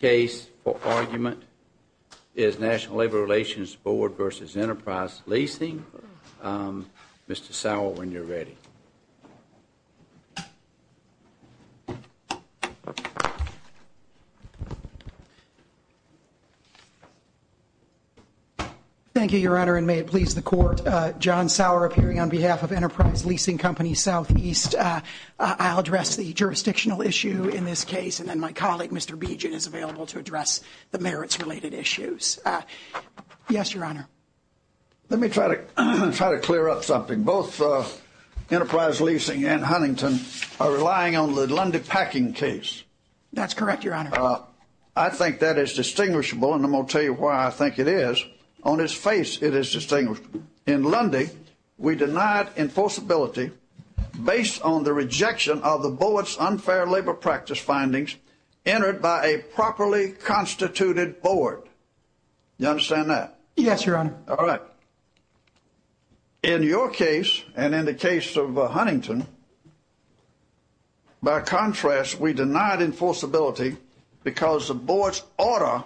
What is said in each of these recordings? Case for argument is National Labor Relations Board v. Enterprise Leasing. Mr. Sauer, when you're ready. Thank you, Your Honor, and may it please the Court. John Sauer, appearing on behalf of Enterprise Leasing Company Southeast. I'll address the jurisdictional issue in this case, and then my colleague, Mr. Beegin, is available to address the merits-related issues. Yes, Your Honor. Let me try to clear up something. Both Enterprise Leasing and Huntington are relying on the Lundy Packing case. That's correct, Your Honor. I think that is distinguishable, and I'm going to tell you why I think it is. On its face, it is distinguishable. In Lundy, we denied enforceability based on the rejection of the Board's unfair labor practice findings entered by a properly constituted board. Do you understand that? Yes, Your Honor. All right. In your case, and in the case of Huntington, by contrast, we denied enforceability because the Board's order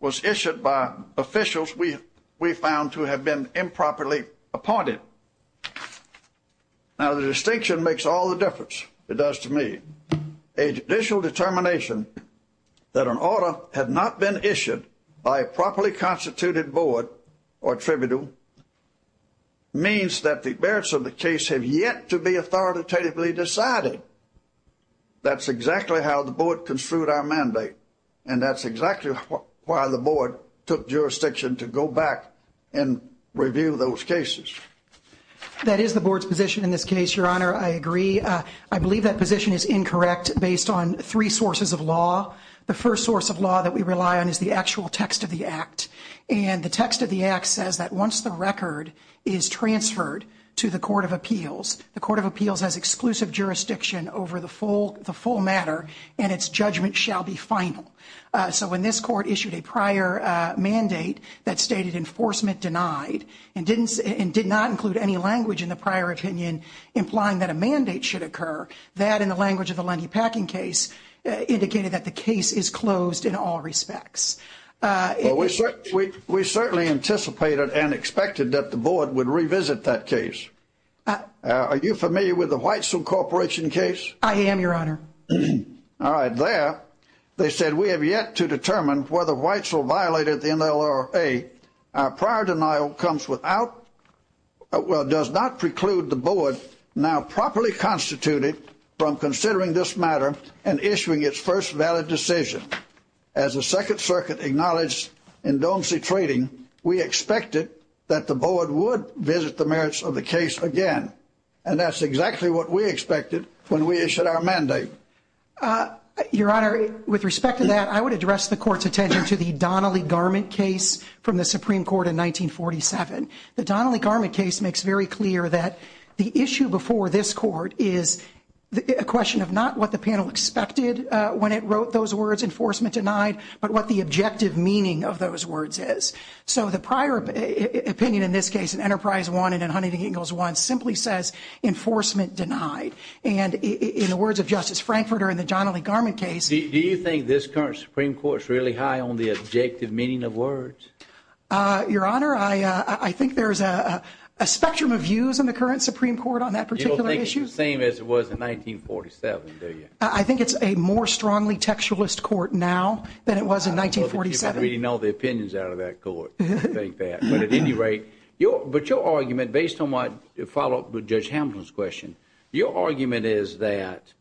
was issued by officials we found to have been improperly appointed. Now, the distinction makes all the difference, it does to me. A judicial determination that an order had not been issued by a properly constituted board or tribunal means that the merits of the case have yet to be authoritatively decided. That's exactly how the Board construed our mandate, and that's exactly why the Board took jurisdiction to go back and review those cases. That is the Board's position in this case, Your Honor. I agree. I believe that position is incorrect based on three sources of law. The first source of law that we rely on is the actual text of the Act, and the text of the Act says that once the record is transferred to the Court of Appeals, the Court of Appeals has exclusive jurisdiction over the full matter, and its judgment shall be final. So when this Court issued a prior mandate that stated enforcement denied, and did not include any language in the prior opinion implying that a mandate should occur, that, in the language of the Lundy-Packing case, indicated that the case is closed in all respects. Well, we certainly anticipated and expected that the Board would revisit that case. Are you familiar with the Whitesell Corporation case? I am, Your Honor. All right. There, they said, we have yet to determine whether Whitesell violated the NLRA. Our prior denial comes without, well, does not preclude the Board now properly constituted from considering this matter and issuing its first valid decision. As the Second Circuit acknowledged in Don't See Trading, we expected that the Board would visit the merits of the case again, and that's exactly what we expected when we issued our mandate. Your Honor, with respect to that, I would address the Court's attention to the Donnelly-Garment case from the Supreme Court in 1947. The Donnelly-Garment case makes very clear that the issue before this Court is a question of not what the panel expected when it wrote those words, enforcement denied, but what the objective meaning of those words is. So the prior opinion in this case in Enterprise 1 and in Huntington Hills 1 simply says enforcement denied. And in the words of Justice Frankfurter in the Donnelly-Garment case, Do you think this current Supreme Court is really high on the objective meaning of words? Your Honor, I think there's a spectrum of views in the current Supreme Court on that particular issue. You don't think it's the same as it was in 1947, do you? I think it's a more strongly textualist court now than it was in 1947. Thank you for reading all the opinions out of that court. But at any rate, but your argument, based on my follow-up to Judge Hamilton's question, your argument is that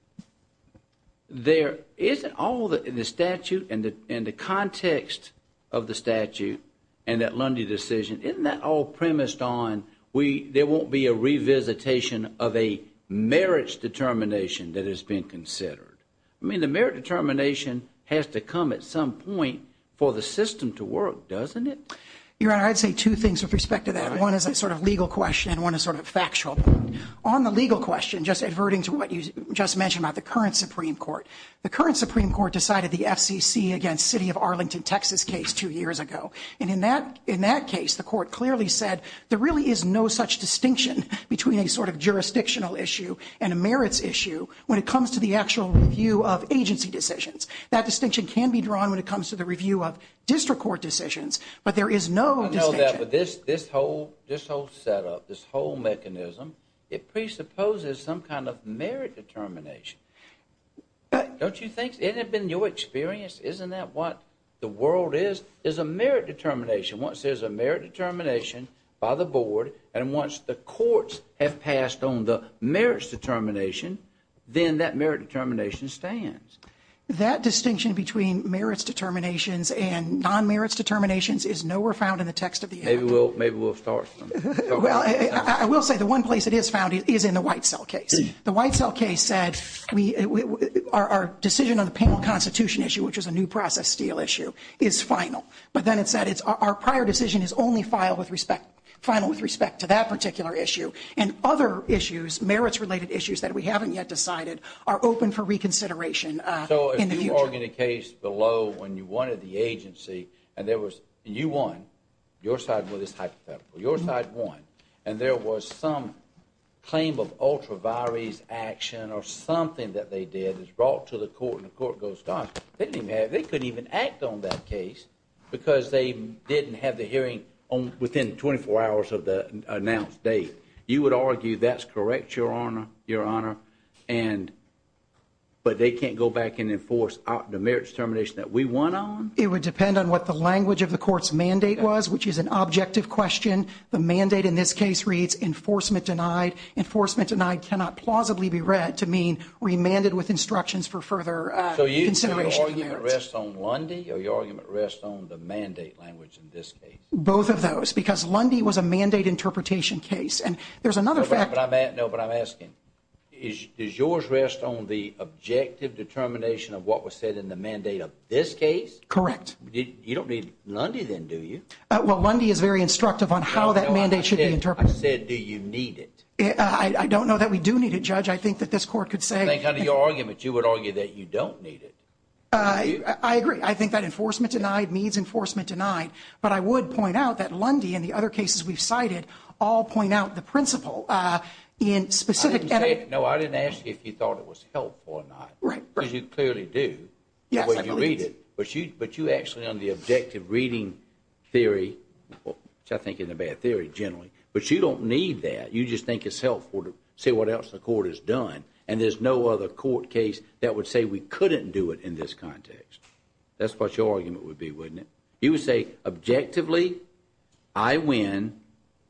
there isn't all the statute and the context of the statute and that Lundy decision, isn't that all premised on there won't be a revisitation of a merits determination that has been considered? I mean, the merits determination has to come at some point for the system to work, doesn't it? Your Honor, I'd say two things with respect to that. One is a sort of legal question and one is sort of factual. On the legal question, just adverting to what you just mentioned about the current Supreme Court, the current Supreme Court decided the FCC against City of Arlington, Texas case two years ago. And in that case, the court clearly said there really is no such distinction between a sort of jurisdictional issue and a merits issue when it comes to the actual review of agency decisions. That distinction can be drawn when it comes to the review of district court decisions, but there is no distinction. I know that, but this whole setup, this whole mechanism, it presupposes some kind of merit determination. Don't you think? Hasn't it been your experience? Isn't that what the world is, is a merit determination? Once there's a merit determination by the board and once the courts have passed on the merits determination, then that merit determination stands. That distinction between merits determinations and non-merits determinations is nowhere found in the text of the act. Maybe we'll start from there. Well, I will say the one place it is found is in the Whitesell case. The Whitesell case said our decision on the penal constitution issue, which is a new process steel issue, is final. But then it said our prior decision is only final with respect to that particular issue. And other issues, merits-related issues that we haven't yet decided, are open for reconsideration in the future. So if you were in a case below when you wanted the agency and you won, your side won. It's hypothetical. Your side won. And there was some claim of ultra vires action or something that they did that's brought to the court and the court goes, They couldn't even act on that case because they didn't have the hearing within 24 hours of the announced date. You would argue that's correct, Your Honor, but they can't go back and enforce the merits determination that we won on? It would depend on what the language of the court's mandate was, which is an objective question. The mandate in this case reads enforcement denied. Enforcement denied cannot plausibly be read to mean remanded with instructions for further consideration. So your argument rests on Lundy or your argument rests on the mandate language in this case? Both of those because Lundy was a mandate interpretation case. And there's another fact. No, but I'm asking, does yours rest on the objective determination of what was said in the mandate of this case? Correct. You don't need Lundy then, do you? Well, Lundy is very instructive on how that mandate should be interpreted. I said, do you need it? I don't know that we do need it, Judge. I think that this court could say. I think under your argument you would argue that you don't need it. I agree. I think that enforcement denied means enforcement denied. But I would point out that Lundy and the other cases we've cited all point out the principle in specific. No, I didn't ask you if you thought it was helpful or not. Right. Because you clearly do. Yes, I believe it. But you actually under the objective reading theory, which I think is a bad theory generally, but you don't need that. You just think it's helpful to say what else the court has done. And there's no other court case that would say we couldn't do it in this context. That's what your argument would be, wouldn't it? You would say, objectively, I win,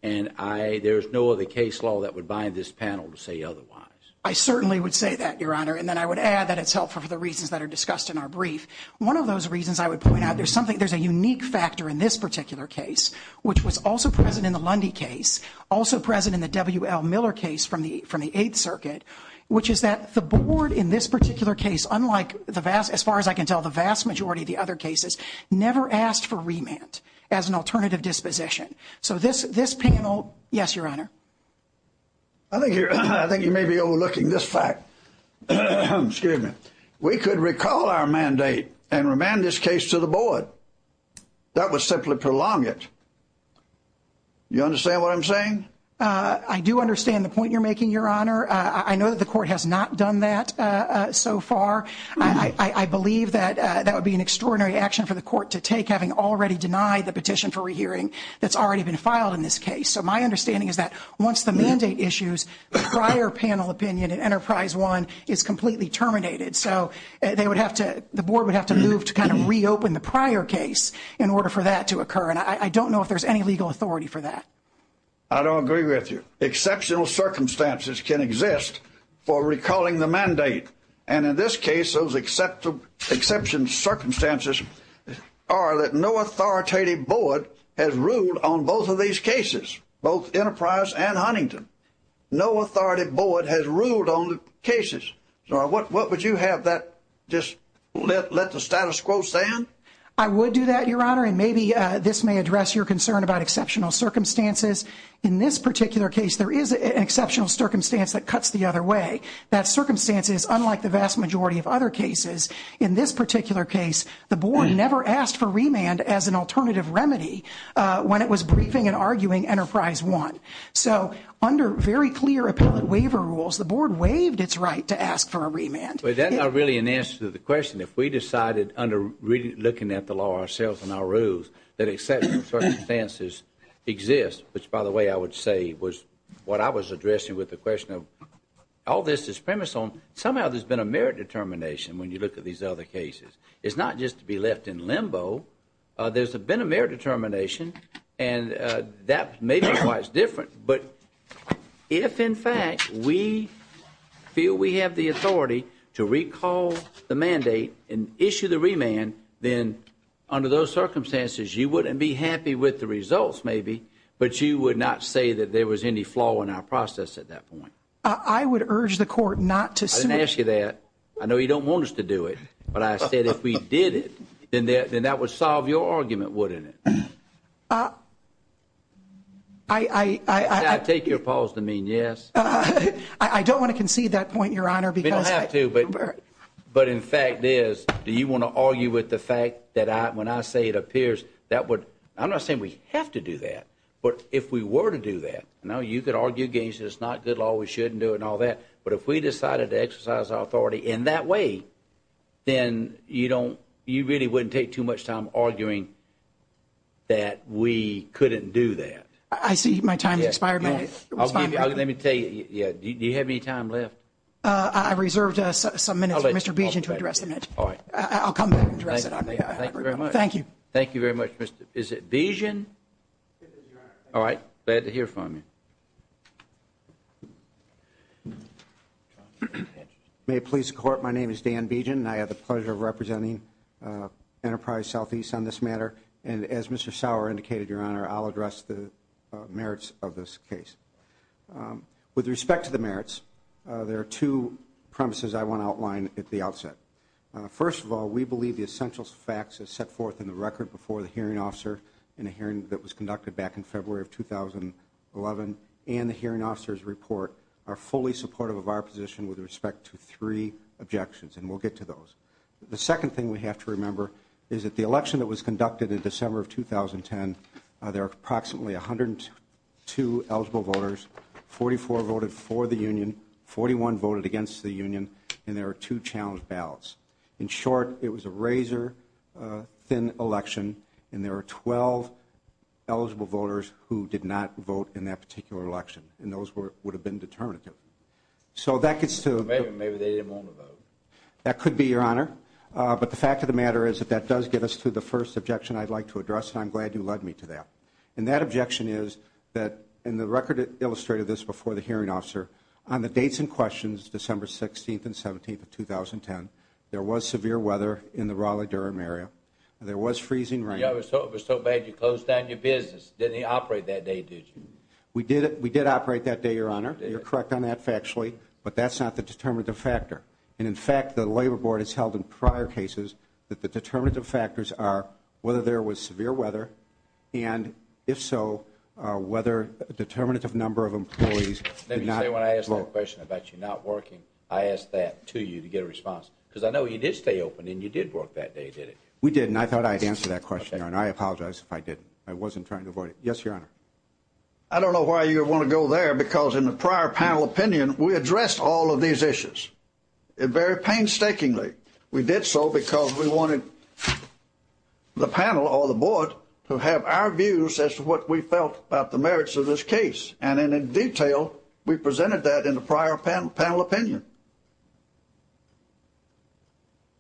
and there's no other case law that would bind this panel to say otherwise. I certainly would say that, Your Honor. And then I would add that it's helpful for the reasons that are discussed in our brief. One of those reasons I would point out, there's something, there's a unique factor in this particular case, which was also present in the Lundy case, also present in the W.L. Miller case from the Eighth Circuit, which is that the board in this particular case, unlike the vast, as far as I can tell, the vast majority of the other cases, never asked for remand as an alternative disposition. So this panel, yes, Your Honor. I think you may be overlooking this fact. Excuse me. That would simply prolong it. You understand what I'm saying? I do understand the point you're making, Your Honor. I know that the court has not done that so far. I believe that that would be an extraordinary action for the court to take, having already denied the petition for rehearing that's already been filed in this case. So my understanding is that once the mandate issues, prior panel opinion in Enterprise One is completely terminated. So they would have to, the board would have to move to kind of reopen the prior case in order for that to occur. And I don't know if there's any legal authority for that. I don't agree with you. Exceptional circumstances can exist for recalling the mandate. And in this case, those exceptional circumstances are that no authoritative board has ruled on both of these cases, both Enterprise and Huntington. No authoritative board has ruled on the cases. So what would you have that just let the status quo stand? I would do that, Your Honor. And maybe this may address your concern about exceptional circumstances. In this particular case, there is an exceptional circumstance that cuts the other way. That circumstance is unlike the vast majority of other cases. In this particular case, the board never asked for remand as an alternative remedy when it was briefing and arguing Enterprise One. So under very clear appellate waiver rules, the board waived its right to ask for a remand. But that's not really an answer to the question. If we decided under looking at the law ourselves and our rules that exceptional circumstances exist, which, by the way, I would say was what I was addressing with the question of all this is premised on, somehow there's been a merit determination when you look at these other cases. It's not just to be left in limbo. There's been a merit determination, and that may be why it's different. But if, in fact, we feel we have the authority to recall the mandate and issue the remand, then under those circumstances you wouldn't be happy with the results maybe, but you would not say that there was any flaw in our process at that point. I would urge the court not to sue. I didn't ask you that. I know you don't want us to do it, but I said if we did it, then that would solve your argument, wouldn't it? I take your pause to mean yes. I don't want to concede that point, Your Honor. You don't have to. But in fact is, do you want to argue with the fact that when I say it appears that would – I'm not saying we have to do that, but if we were to do that, you could argue against it, it's not good law, we shouldn't do it and all that, but if we decided to exercise our authority in that way, then you really wouldn't take too much time arguing that we couldn't do that. I see my time has expired. Let me tell you, do you have any time left? I reserved some minutes for Mr. Beeson to address the matter. All right. I'll come back and address it. Thank you very much. Thank you. Thank you very much. Is it Beeson? All right. Glad to hear from you. May it please the Court, my name is Dan Beeson and I have the pleasure of representing Enterprise Southeast on this matter. And as Mr. Sauer indicated, Your Honor, I'll address the merits of this case. With respect to the merits, there are two premises I want to outline at the outset. First of all, we believe the essential facts are set forth in the record before the hearing officer in a hearing that was conducted back in February of 2011 and the hearing officer's report are fully supportive of our position with respect to three objections, and we'll get to those. The second thing we have to remember is that the election that was conducted in December of 2010, there were approximately 102 eligible voters, 44 voted for the union, 41 voted against the union, and there were two challenged ballots. In short, it was a razor-thin election, and there were 12 eligible voters who did not vote in that particular election, and those would have been determinative. Maybe they didn't want to vote. That could be, Your Honor. But the fact of the matter is that that does get us to the first objection I'd like to address, and I'm glad you led me to that. And that objection is that, and the record illustrated this before the hearing officer, on the dates in question, December 16th and 17th of 2010, there was severe weather in the Raleigh-Durham area. There was freezing rain. It was so bad you closed down your business. Didn't he operate that day, did you? We did operate that day, Your Honor. You're correct on that factually, but that's not the determinative factor. And, in fact, the Labor Board has held in prior cases that the determinative factors are whether there was severe weather and, if so, whether a determinative number of employees did not. Let me say, when I asked that question about you not working, I asked that to you to get a response, because I know you did stay open and you did work that day, did you? We did, and I thought I'd answer that question, Your Honor. I apologize if I didn't. I wasn't trying to avoid it. Yes, Your Honor. I don't know why you would want to go there, because in the prior panel opinion, we addressed all of these issues very painstakingly. We did so because we wanted the panel or the board to have our views as to what we felt about the merits of this case. And, in detail, we presented that in the prior panel opinion.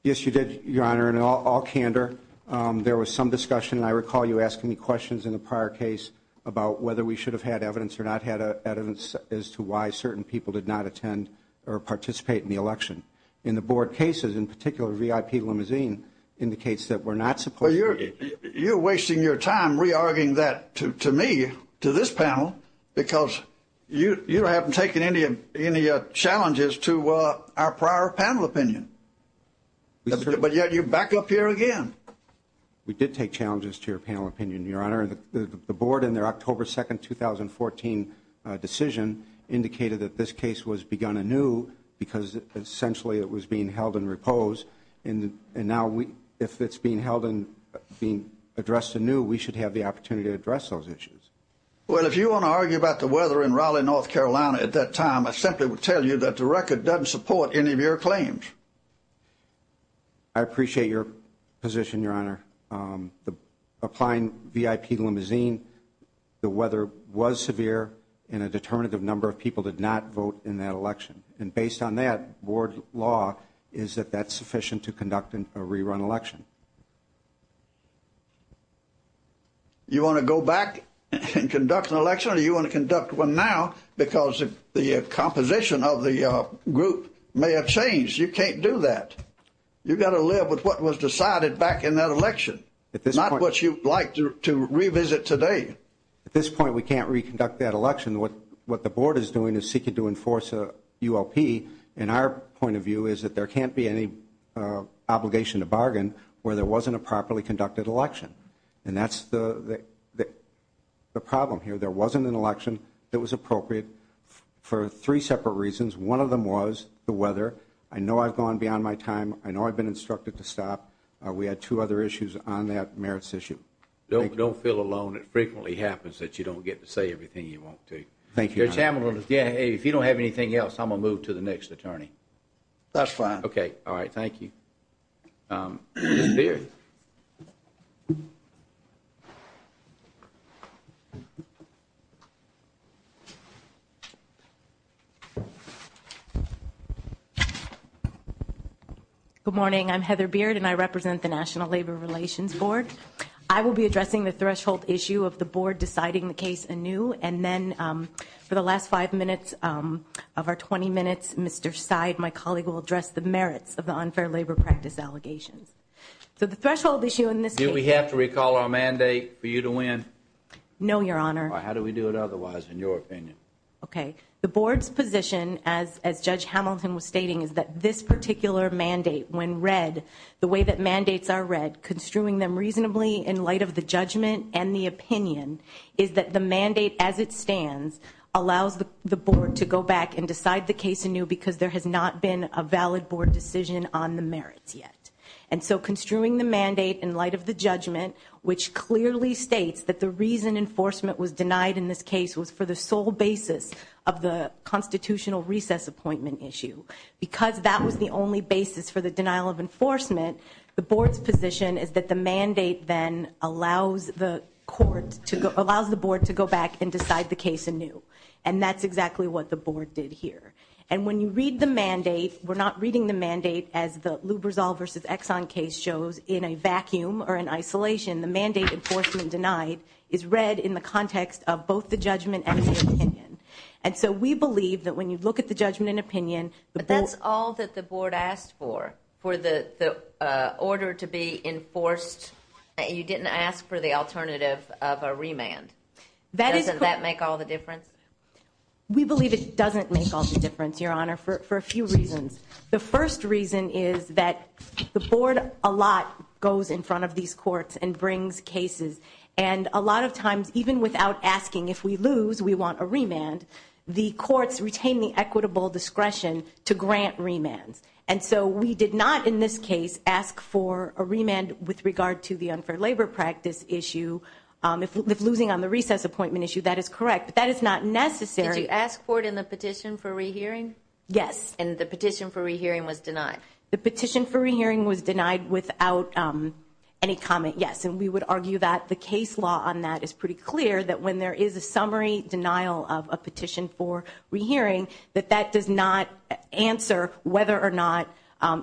Yes, you did, Your Honor, in all candor. There was some discussion, and I recall you asking me questions in the prior case about whether we should have had evidence or not had evidence as to why certain people did not attend or participate in the election. In the board cases, in particular, VIP limousine indicates that we're not supposed to. Well, you're wasting your time re-arguing that to me, to this panel, because you haven't taken any challenges to our prior panel opinion. But yet you're back up here again. We did take challenges to your panel opinion, Your Honor. The board, in their October 2, 2014 decision, indicated that this case was begun anew because, essentially, it was being held in repose. And now, if it's being held and being addressed anew, we should have the opportunity to address those issues. Well, if you want to argue about the weather in Raleigh, North Carolina at that time, I simply would tell you that the record doesn't support any of your claims. I appreciate your position, Your Honor. Applying VIP limousine, the weather was severe, and a determinative number of people did not vote in that election. And based on that, board law is that that's sufficient to conduct a rerun election. You want to go back and conduct an election, or do you want to conduct one now because the composition of the group may have changed? You can't do that. You've got to live with what was decided back in that election, not what you'd like to revisit today. At this point, we can't reconduct that election. What the board is doing is seeking to enforce a ULP. And our point of view is that there can't be any obligation to bargain where there wasn't a properly conducted election. And that's the problem here. There wasn't an election that was appropriate for three separate reasons. One of them was the weather. I know I've gone beyond my time. I know I've been instructed to stop. We had two other issues on that merits issue. Don't feel alone. It frequently happens that you don't get to say everything you want to. Thank you. If you don't have anything else, I'm going to move to the next attorney. That's fine. Okay. All right. Thank you. Ms. Beard. Good morning. I'm Heather Beard, and I represent the National Labor Relations Board. I will be addressing the threshold issue of the board deciding the case anew. And then for the last five minutes of our 20 minutes, Mr. Seid, my colleague, will address the merits of the unfair labor practice allegations. So the threshold issue in this case. Do we have to recall our mandate for you to win? No, Your Honor. How do we do it otherwise, in your opinion? Okay. The board's position, as Judge Hamilton was stating, is that this particular mandate, when read the way that mandates are read, construing them reasonably in light of the judgment and the opinion, is that the mandate as it stands allows the board to go back and decide the case anew because there has not been a valid board decision on the merits yet. And so construing the mandate in light of the judgment, which clearly states that the reason enforcement was denied in this case was for the sole basis of the constitutional recess appointment issue. Because that was the only basis for the denial of enforcement, the board's position is that the mandate then allows the board to go back and decide the case anew. And that's exactly what the board did here. And when you read the mandate, we're not reading the mandate as the Lubrizol v. Exxon case shows, in a vacuum or in isolation, the mandate enforcement denied is read in the context of both the judgment and the opinion. And so we believe that when you look at the judgment and opinion, the board... But that's all that the board asked for, for the order to be enforced. You didn't ask for the alternative of a remand. That is correct. Doesn't that make all the difference? We believe it doesn't make all the difference, Your Honor, for a few reasons. The first reason is that the board a lot goes in front of these courts and brings cases. And a lot of times, even without asking if we lose, we want a remand, the courts retain the equitable discretion to grant remands. And so we did not in this case ask for a remand with regard to the unfair labor practice issue. If losing on the recess appointment issue, that is correct. But that is not necessary. Did you ask for it in the petition for rehearing? Yes. And the petition for rehearing was denied? The petition for rehearing was denied without any comment, yes. And we would argue that the case law on that is pretty clear, that when there is a summary denial of a petition for rehearing, that that does not answer whether or not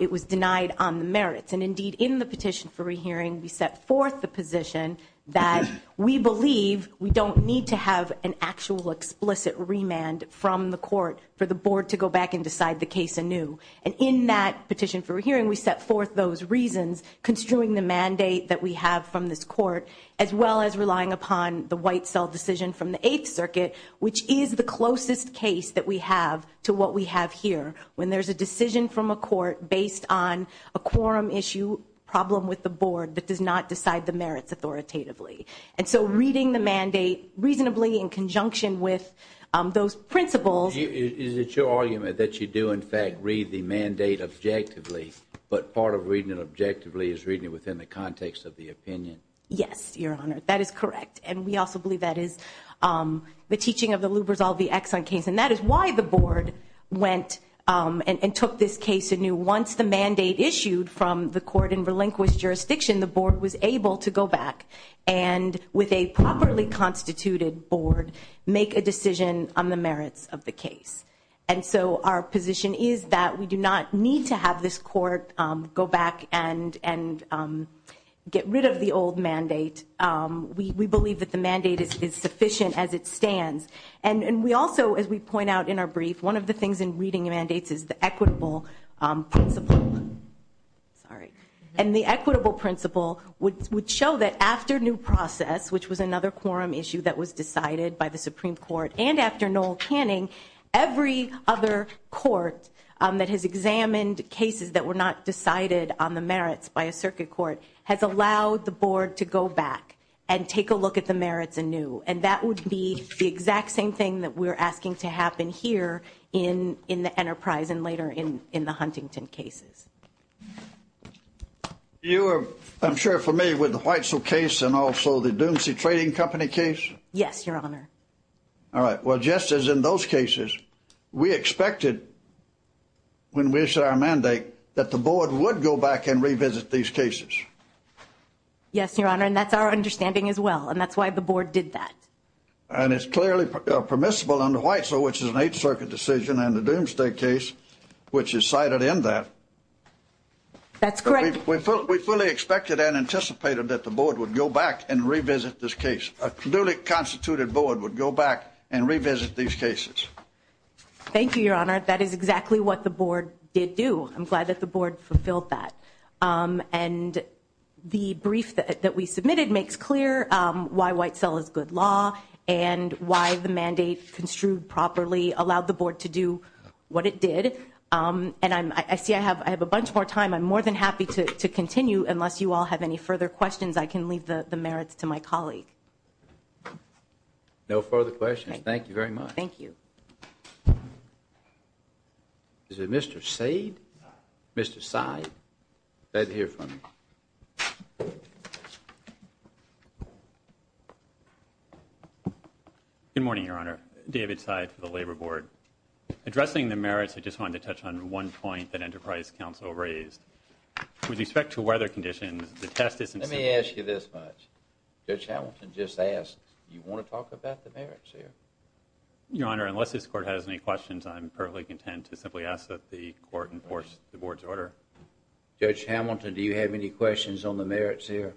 it was denied on the merits. And indeed, in the petition for rehearing, we set forth the position that we believe we don't need to have an actual explicit remand from the court for the board to go back and decide the case anew. And in that petition for rehearing, we set forth those reasons construing the mandate that we have from this court, as well as relying upon the white cell decision from the Eighth Circuit, which is the closest case that we have to what we have here, when there is a decision from a court based on a quorum issue problem with the board that does not decide the merits authoritatively. And so reading the mandate reasonably in conjunction with those principles. Is it your argument that you do, in fact, read the mandate objectively, but part of reading it objectively is reading it within the context of the opinion? Yes, Your Honor, that is correct. And we also believe that is the teaching of the Lubrizol v. Exxon case. And that is why the board went and took this case anew. Once the mandate issued from the court in relinquished jurisdiction, the board was able to go back and, with a properly constituted board, make a decision on the merits of the case. And so our position is that we do not need to have this court go back and get rid of the old mandate. We believe that the mandate is sufficient as it stands. And we also, as we point out in our brief, one of the things in reading mandates is the equitable principle. And the equitable principle would show that after new process, which was another quorum issue that was decided by the Supreme Court, and after Noel Canning, every other court that has examined cases that were not decided on the merits by a circuit court has allowed the board to go back and take a look at the merits anew. And that would be the exact same thing that we're asking to happen here in the Enterprise and later in the Huntington cases. You are, I'm sure, familiar with the Whitesell case and also the Doomsday Trading Company case? Yes, Your Honor. All right. Well, just as in those cases, we expected, when we issued our mandate, that the board would go back and revisit these cases. Yes, Your Honor. And that's our understanding as well. And that's why the board did that. And it's clearly permissible under Whitesell, which is an Eighth Circuit decision, and the Doomsday case, which is cited in that. That's correct. We fully expected and anticipated that the board would go back and revisit this case. A duly constituted board would go back and revisit these cases. Thank you, Your Honor. That is exactly what the board did do. I'm glad that the board fulfilled that. And the brief that we submitted makes clear why Whitesell is good law and why the mandate construed properly allowed the board to do what it did. And I see I have a bunch more time. I'm more than happy to continue. Unless you all have any further questions, I can leave the merits to my colleague. No further questions. Thank you very much. Thank you. Is it Mr. Saad? Mr. Saad? Saad, hear from you. Good morning, Your Honor. David Saad for the Labor Board. Addressing the merits, I just wanted to touch on one point that Enterprise Council raised. With respect to weather conditions, the test isn't simply Let me ask you this much. Judge Hamilton just asked, do you want to talk about the merits here? Your Honor, unless this court has any questions, I'm perfectly content to simply ask that the court enforce the board's order. Judge Hamilton, do you have any questions on the merits here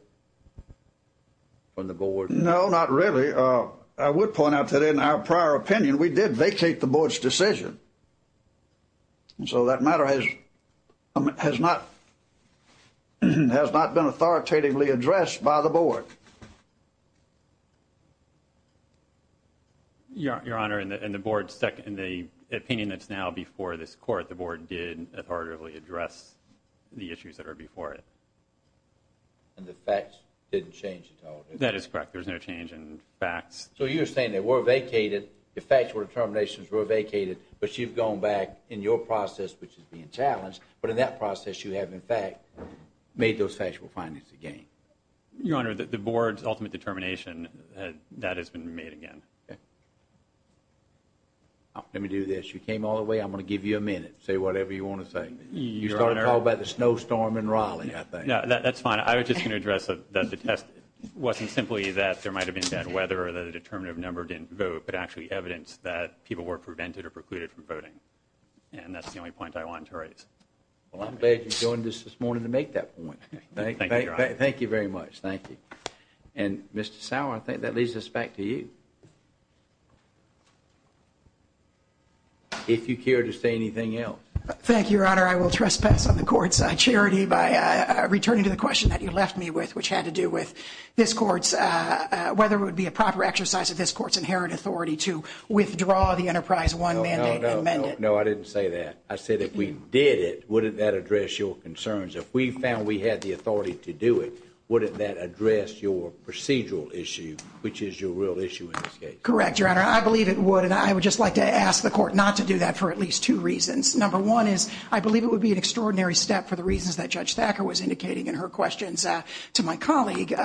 from the board? No, not really. I would point out that in our prior opinion, we did vacate the board's decision. And so that matter has not been authoritatively addressed by the board. Your Honor, in the opinion that's now before this court, the board did authoritatively address the issues that are before it. And the facts didn't change at all, did they? That is correct. There's no change in facts. So you're saying they were vacated, the factual determinations were vacated, but you've gone back in your process, which is being challenged, but in that process you have, in fact, made those factual findings again. Your Honor, the board's ultimate determination, that has been made again. Let me do this. You came all the way. I'm going to give you a minute, say whatever you want to say. You started to talk about the snowstorm in Raleigh, I think. That's fine. I was just going to address that the test wasn't simply that there might have been bad weather or that a determinative number didn't vote, but actually evidence that people were prevented or precluded from voting. And that's the only point I wanted to raise. Well, I'm glad you joined us this morning to make that point. Thank you very much. Thank you. And, Mr. Sauer, I think that leads us back to you. If you care to say anything else. Thank you, Your Honor. I will trespass on the Court's charity by returning to the question that you left me with, which had to do with this Court's, whether it would be a proper exercise of this Court's inherent authority to withdraw the Enterprise One mandate and amend it. No, I didn't say that. I said if we did it, wouldn't that address your concerns? If we found we had the authority to do it, wouldn't that address your procedural issue, which is your real issue in this case? Correct, Your Honor. I believe it would. And I would just like to ask the Court not to do that for at least two reasons. Number one is I believe it would be an extraordinary step for the reasons that Judge Thacker was indicating in her questions to my colleague,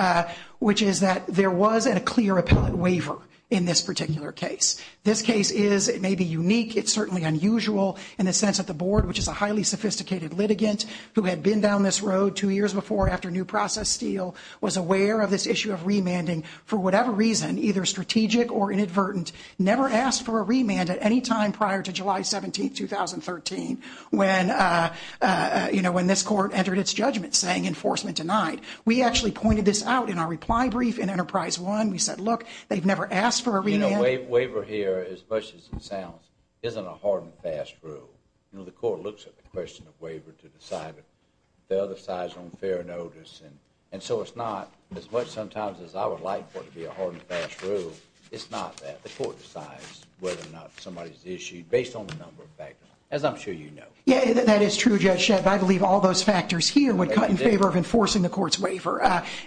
which is that there was a clear appellate waiver in this particular case. This case is, it may be unique, it's certainly unusual in the sense that the Board, which is a highly sophisticated litigant who had been down this road two years before after New Process Steel, was aware of this issue of remanding for whatever reason, either strategic or inadvertent, never asked for a remand at any time prior to July 17, 2013, when this Court entered its judgment saying enforcement denied. We actually pointed this out in our reply brief in Enterprise One. We said, look, they've never asked for a remand. You know, waiver here, as much as it sounds, isn't a hard and fast rule. You know, the Court looks at the question of waiver to decide it. The other side's on fair notice. And so it's not, as much sometimes as I would like for it to be a hard and fast rule, it's not that. The Court decides whether or not somebody's issued based on a number of factors, as I'm sure you know. Yeah, that is true, Judge Sheppard. I believe all those factors here would cut in favor of enforcing the Court's waiver.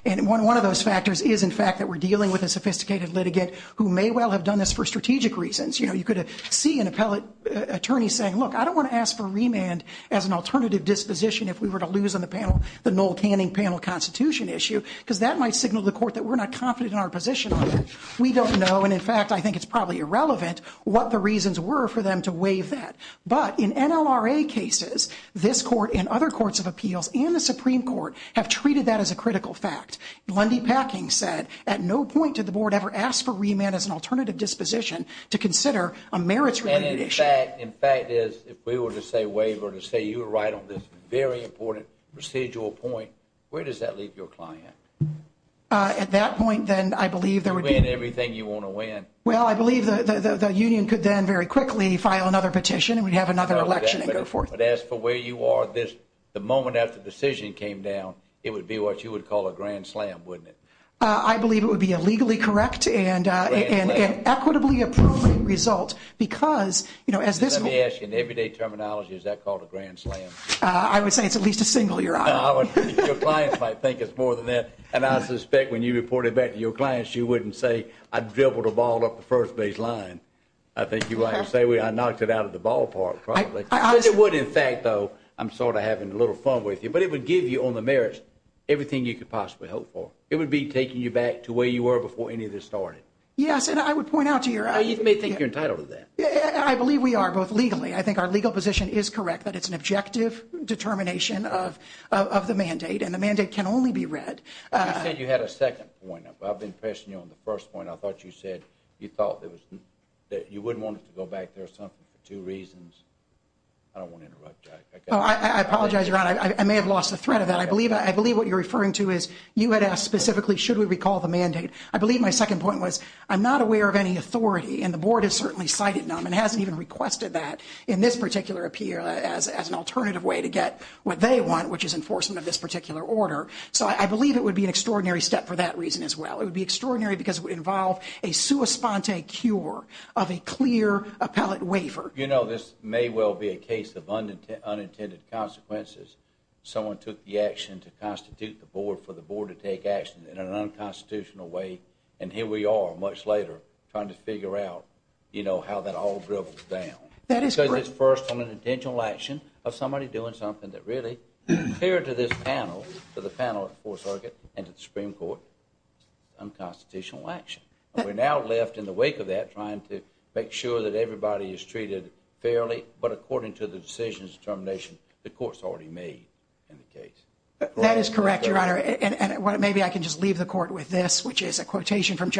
And one of those factors is, in fact, that we're dealing with a sophisticated litigant who may well have done this for strategic reasons. You know, you could see an appellate attorney saying, look, I don't want to ask for remand as an alternative disposition if we were to lose on the panel the Noel Canning panel constitution issue because that might signal to the Court that we're not confident in our position on it. We don't know, and in fact, I think it's probably irrelevant, what the reasons were for them to waive that. But in NLRA cases, this Court and other courts of appeals and the Supreme Court have treated that as a critical fact. Lundy Packing said, at no point did the Board ever ask for remand as an alternative disposition to consider a merits-related issue. And in fact, if we were to say waiver, to say you were right on this very important procedural point, where does that leave your client? At that point, then, I believe there would be – You win everything you want to win. Well, I believe the union could then very quickly file another petition and we'd have another election and go forth. But as for where you are at this, the moment after the decision came down, it would be what you would call a grand slam, wouldn't it? I believe it would be a legally correct and an equitably appropriate result because, you know, as this – Let me ask you, in everyday terminology, is that called a grand slam? I would say it's at least a single, Your Honor. Your clients might think it's more than that. And I suspect when you report it back to your clients, you wouldn't say, I dribbled a ball up the first baseline. I think you might say, I knocked it out of the ballpark, probably. It would, in fact, though, I'm sort of having a little fun with you, but it would give you on the merits everything you could possibly hope for. It would be taking you back to where you were before any of this started. Yes, and I would point out to your – You may think you're entitled to that. I believe we are, both legally. I think our legal position is correct that it's an objective determination of the mandate, and the mandate can only be read. You said you had a second point. I've been pressing you on the first point. I thought you said you thought that you wouldn't want it to go back there for two reasons. I don't want to interrupt, Jack. I apologize, Your Honor. I may have lost the thread of that. I believe what you're referring to is you had asked specifically should we recall the mandate. I believe my second point was I'm not aware of any authority, and the Board has certainly cited them and hasn't even requested that in this particular appeal as an alternative way to get what they want, which is enforcement of this particular order. So I believe it would be an extraordinary step for that reason as well. It would be extraordinary because it would involve a sua sponte cure of a clear appellate waiver. You know, this may well be a case of unintended consequences. Someone took the action to constitute the Board for the Board to take action in an unconstitutional way, and here we are much later trying to figure out, you know, how that all dribbles down. That is correct. Because it's first on an intentional action of somebody doing something that really, compared to this panel, to the panel at the Fourth Circuit and to the Supreme Court, unconstitutional action. We're now left in the wake of that trying to make sure that everybody is treated fairly, but according to the decision's determination the Court's already made in the case. That is correct, Your Honor. And maybe I can just leave the Court with this, which is a quotation from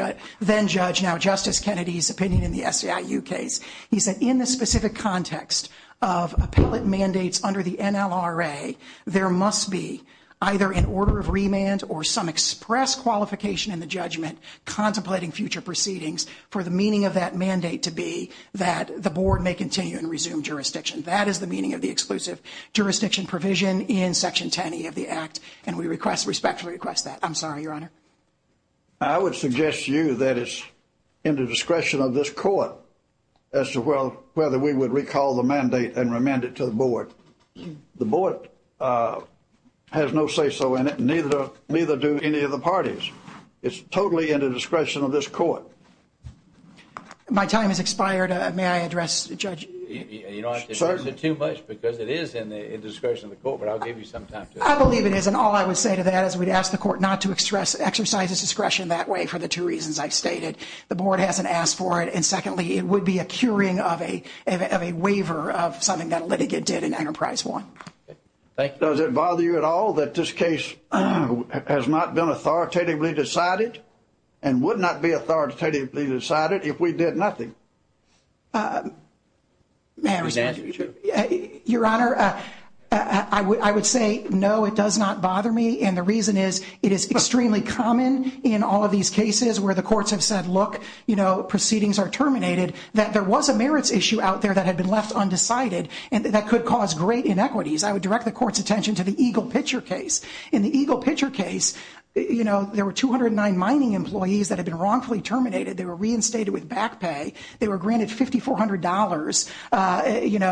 then-Judge, now Justice Kennedy's opinion in the SEIU case. He said in the specific context of appellate mandates under the NLRA, there must be either an order of remand or some express qualification in the judgment contemplating future proceedings for the meaning of that mandate to be that the Board may continue and resume jurisdiction. That is the meaning of the exclusive jurisdiction provision in Section 10E of the Act, and we respectfully request that. I'm sorry, Your Honor. I would suggest to you that it's in the discretion of this Court as to whether we would recall the mandate and remand it to the Board. The Board has no say-so in it, neither do any of the parties. It's totally in the discretion of this Court. My time has expired. May I address, Judge? You don't have to address it too much because it is in the discretion of the Court, but I'll give you some time. I believe it is, and all I would say to that is we'd ask the Court not to exercise its discretion that way for the two reasons I've stated. The Board hasn't asked for it, and secondly, it would be a curing of a waiver of something that a litigant did in Enterprise One. Does it bother you at all that this case has not been authoritatively decided and would not be authoritatively decided if we did nothing? May I respond? Yes, Your Honor. I would say no, it does not bother me, and the reason is it is extremely common in all of these cases where the courts have said, look, proceedings are terminated, that there was a merits issue out there that had been left undecided and that could cause great inequities. I would direct the Court's attention to the Eagle Pitcher case. In the Eagle Pitcher case, there were 209 mining employees that had been wrongfully terminated. They were reinstated with back pay. They were granted $5,400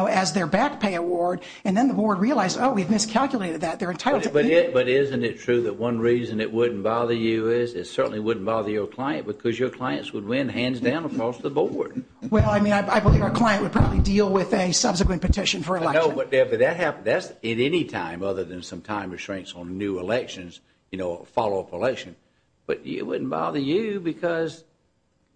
as their back pay award, and then the Board realized, oh, we've miscalculated that. But isn't it true that one reason it wouldn't bother you is it certainly wouldn't bother your client because your clients would win hands down across the Board? Well, I mean, I believe our client would probably deal with a subsequent petition for election. No, but that's at any time other than some time restraints on new elections, you know, follow-up election. But it wouldn't bother you because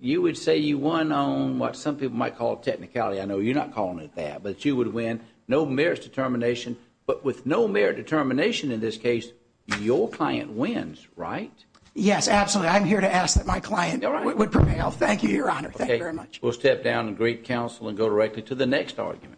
you would say you won on what some people might call technicality. I know you're not calling it that, but you would win. No merits determination. But with no merit determination in this case, your client wins, right? Yes, absolutely. I'm here to ask that my client would prevail. Thank you, Your Honor. Thank you very much. We'll step down and greet counsel and go directly to the next argument.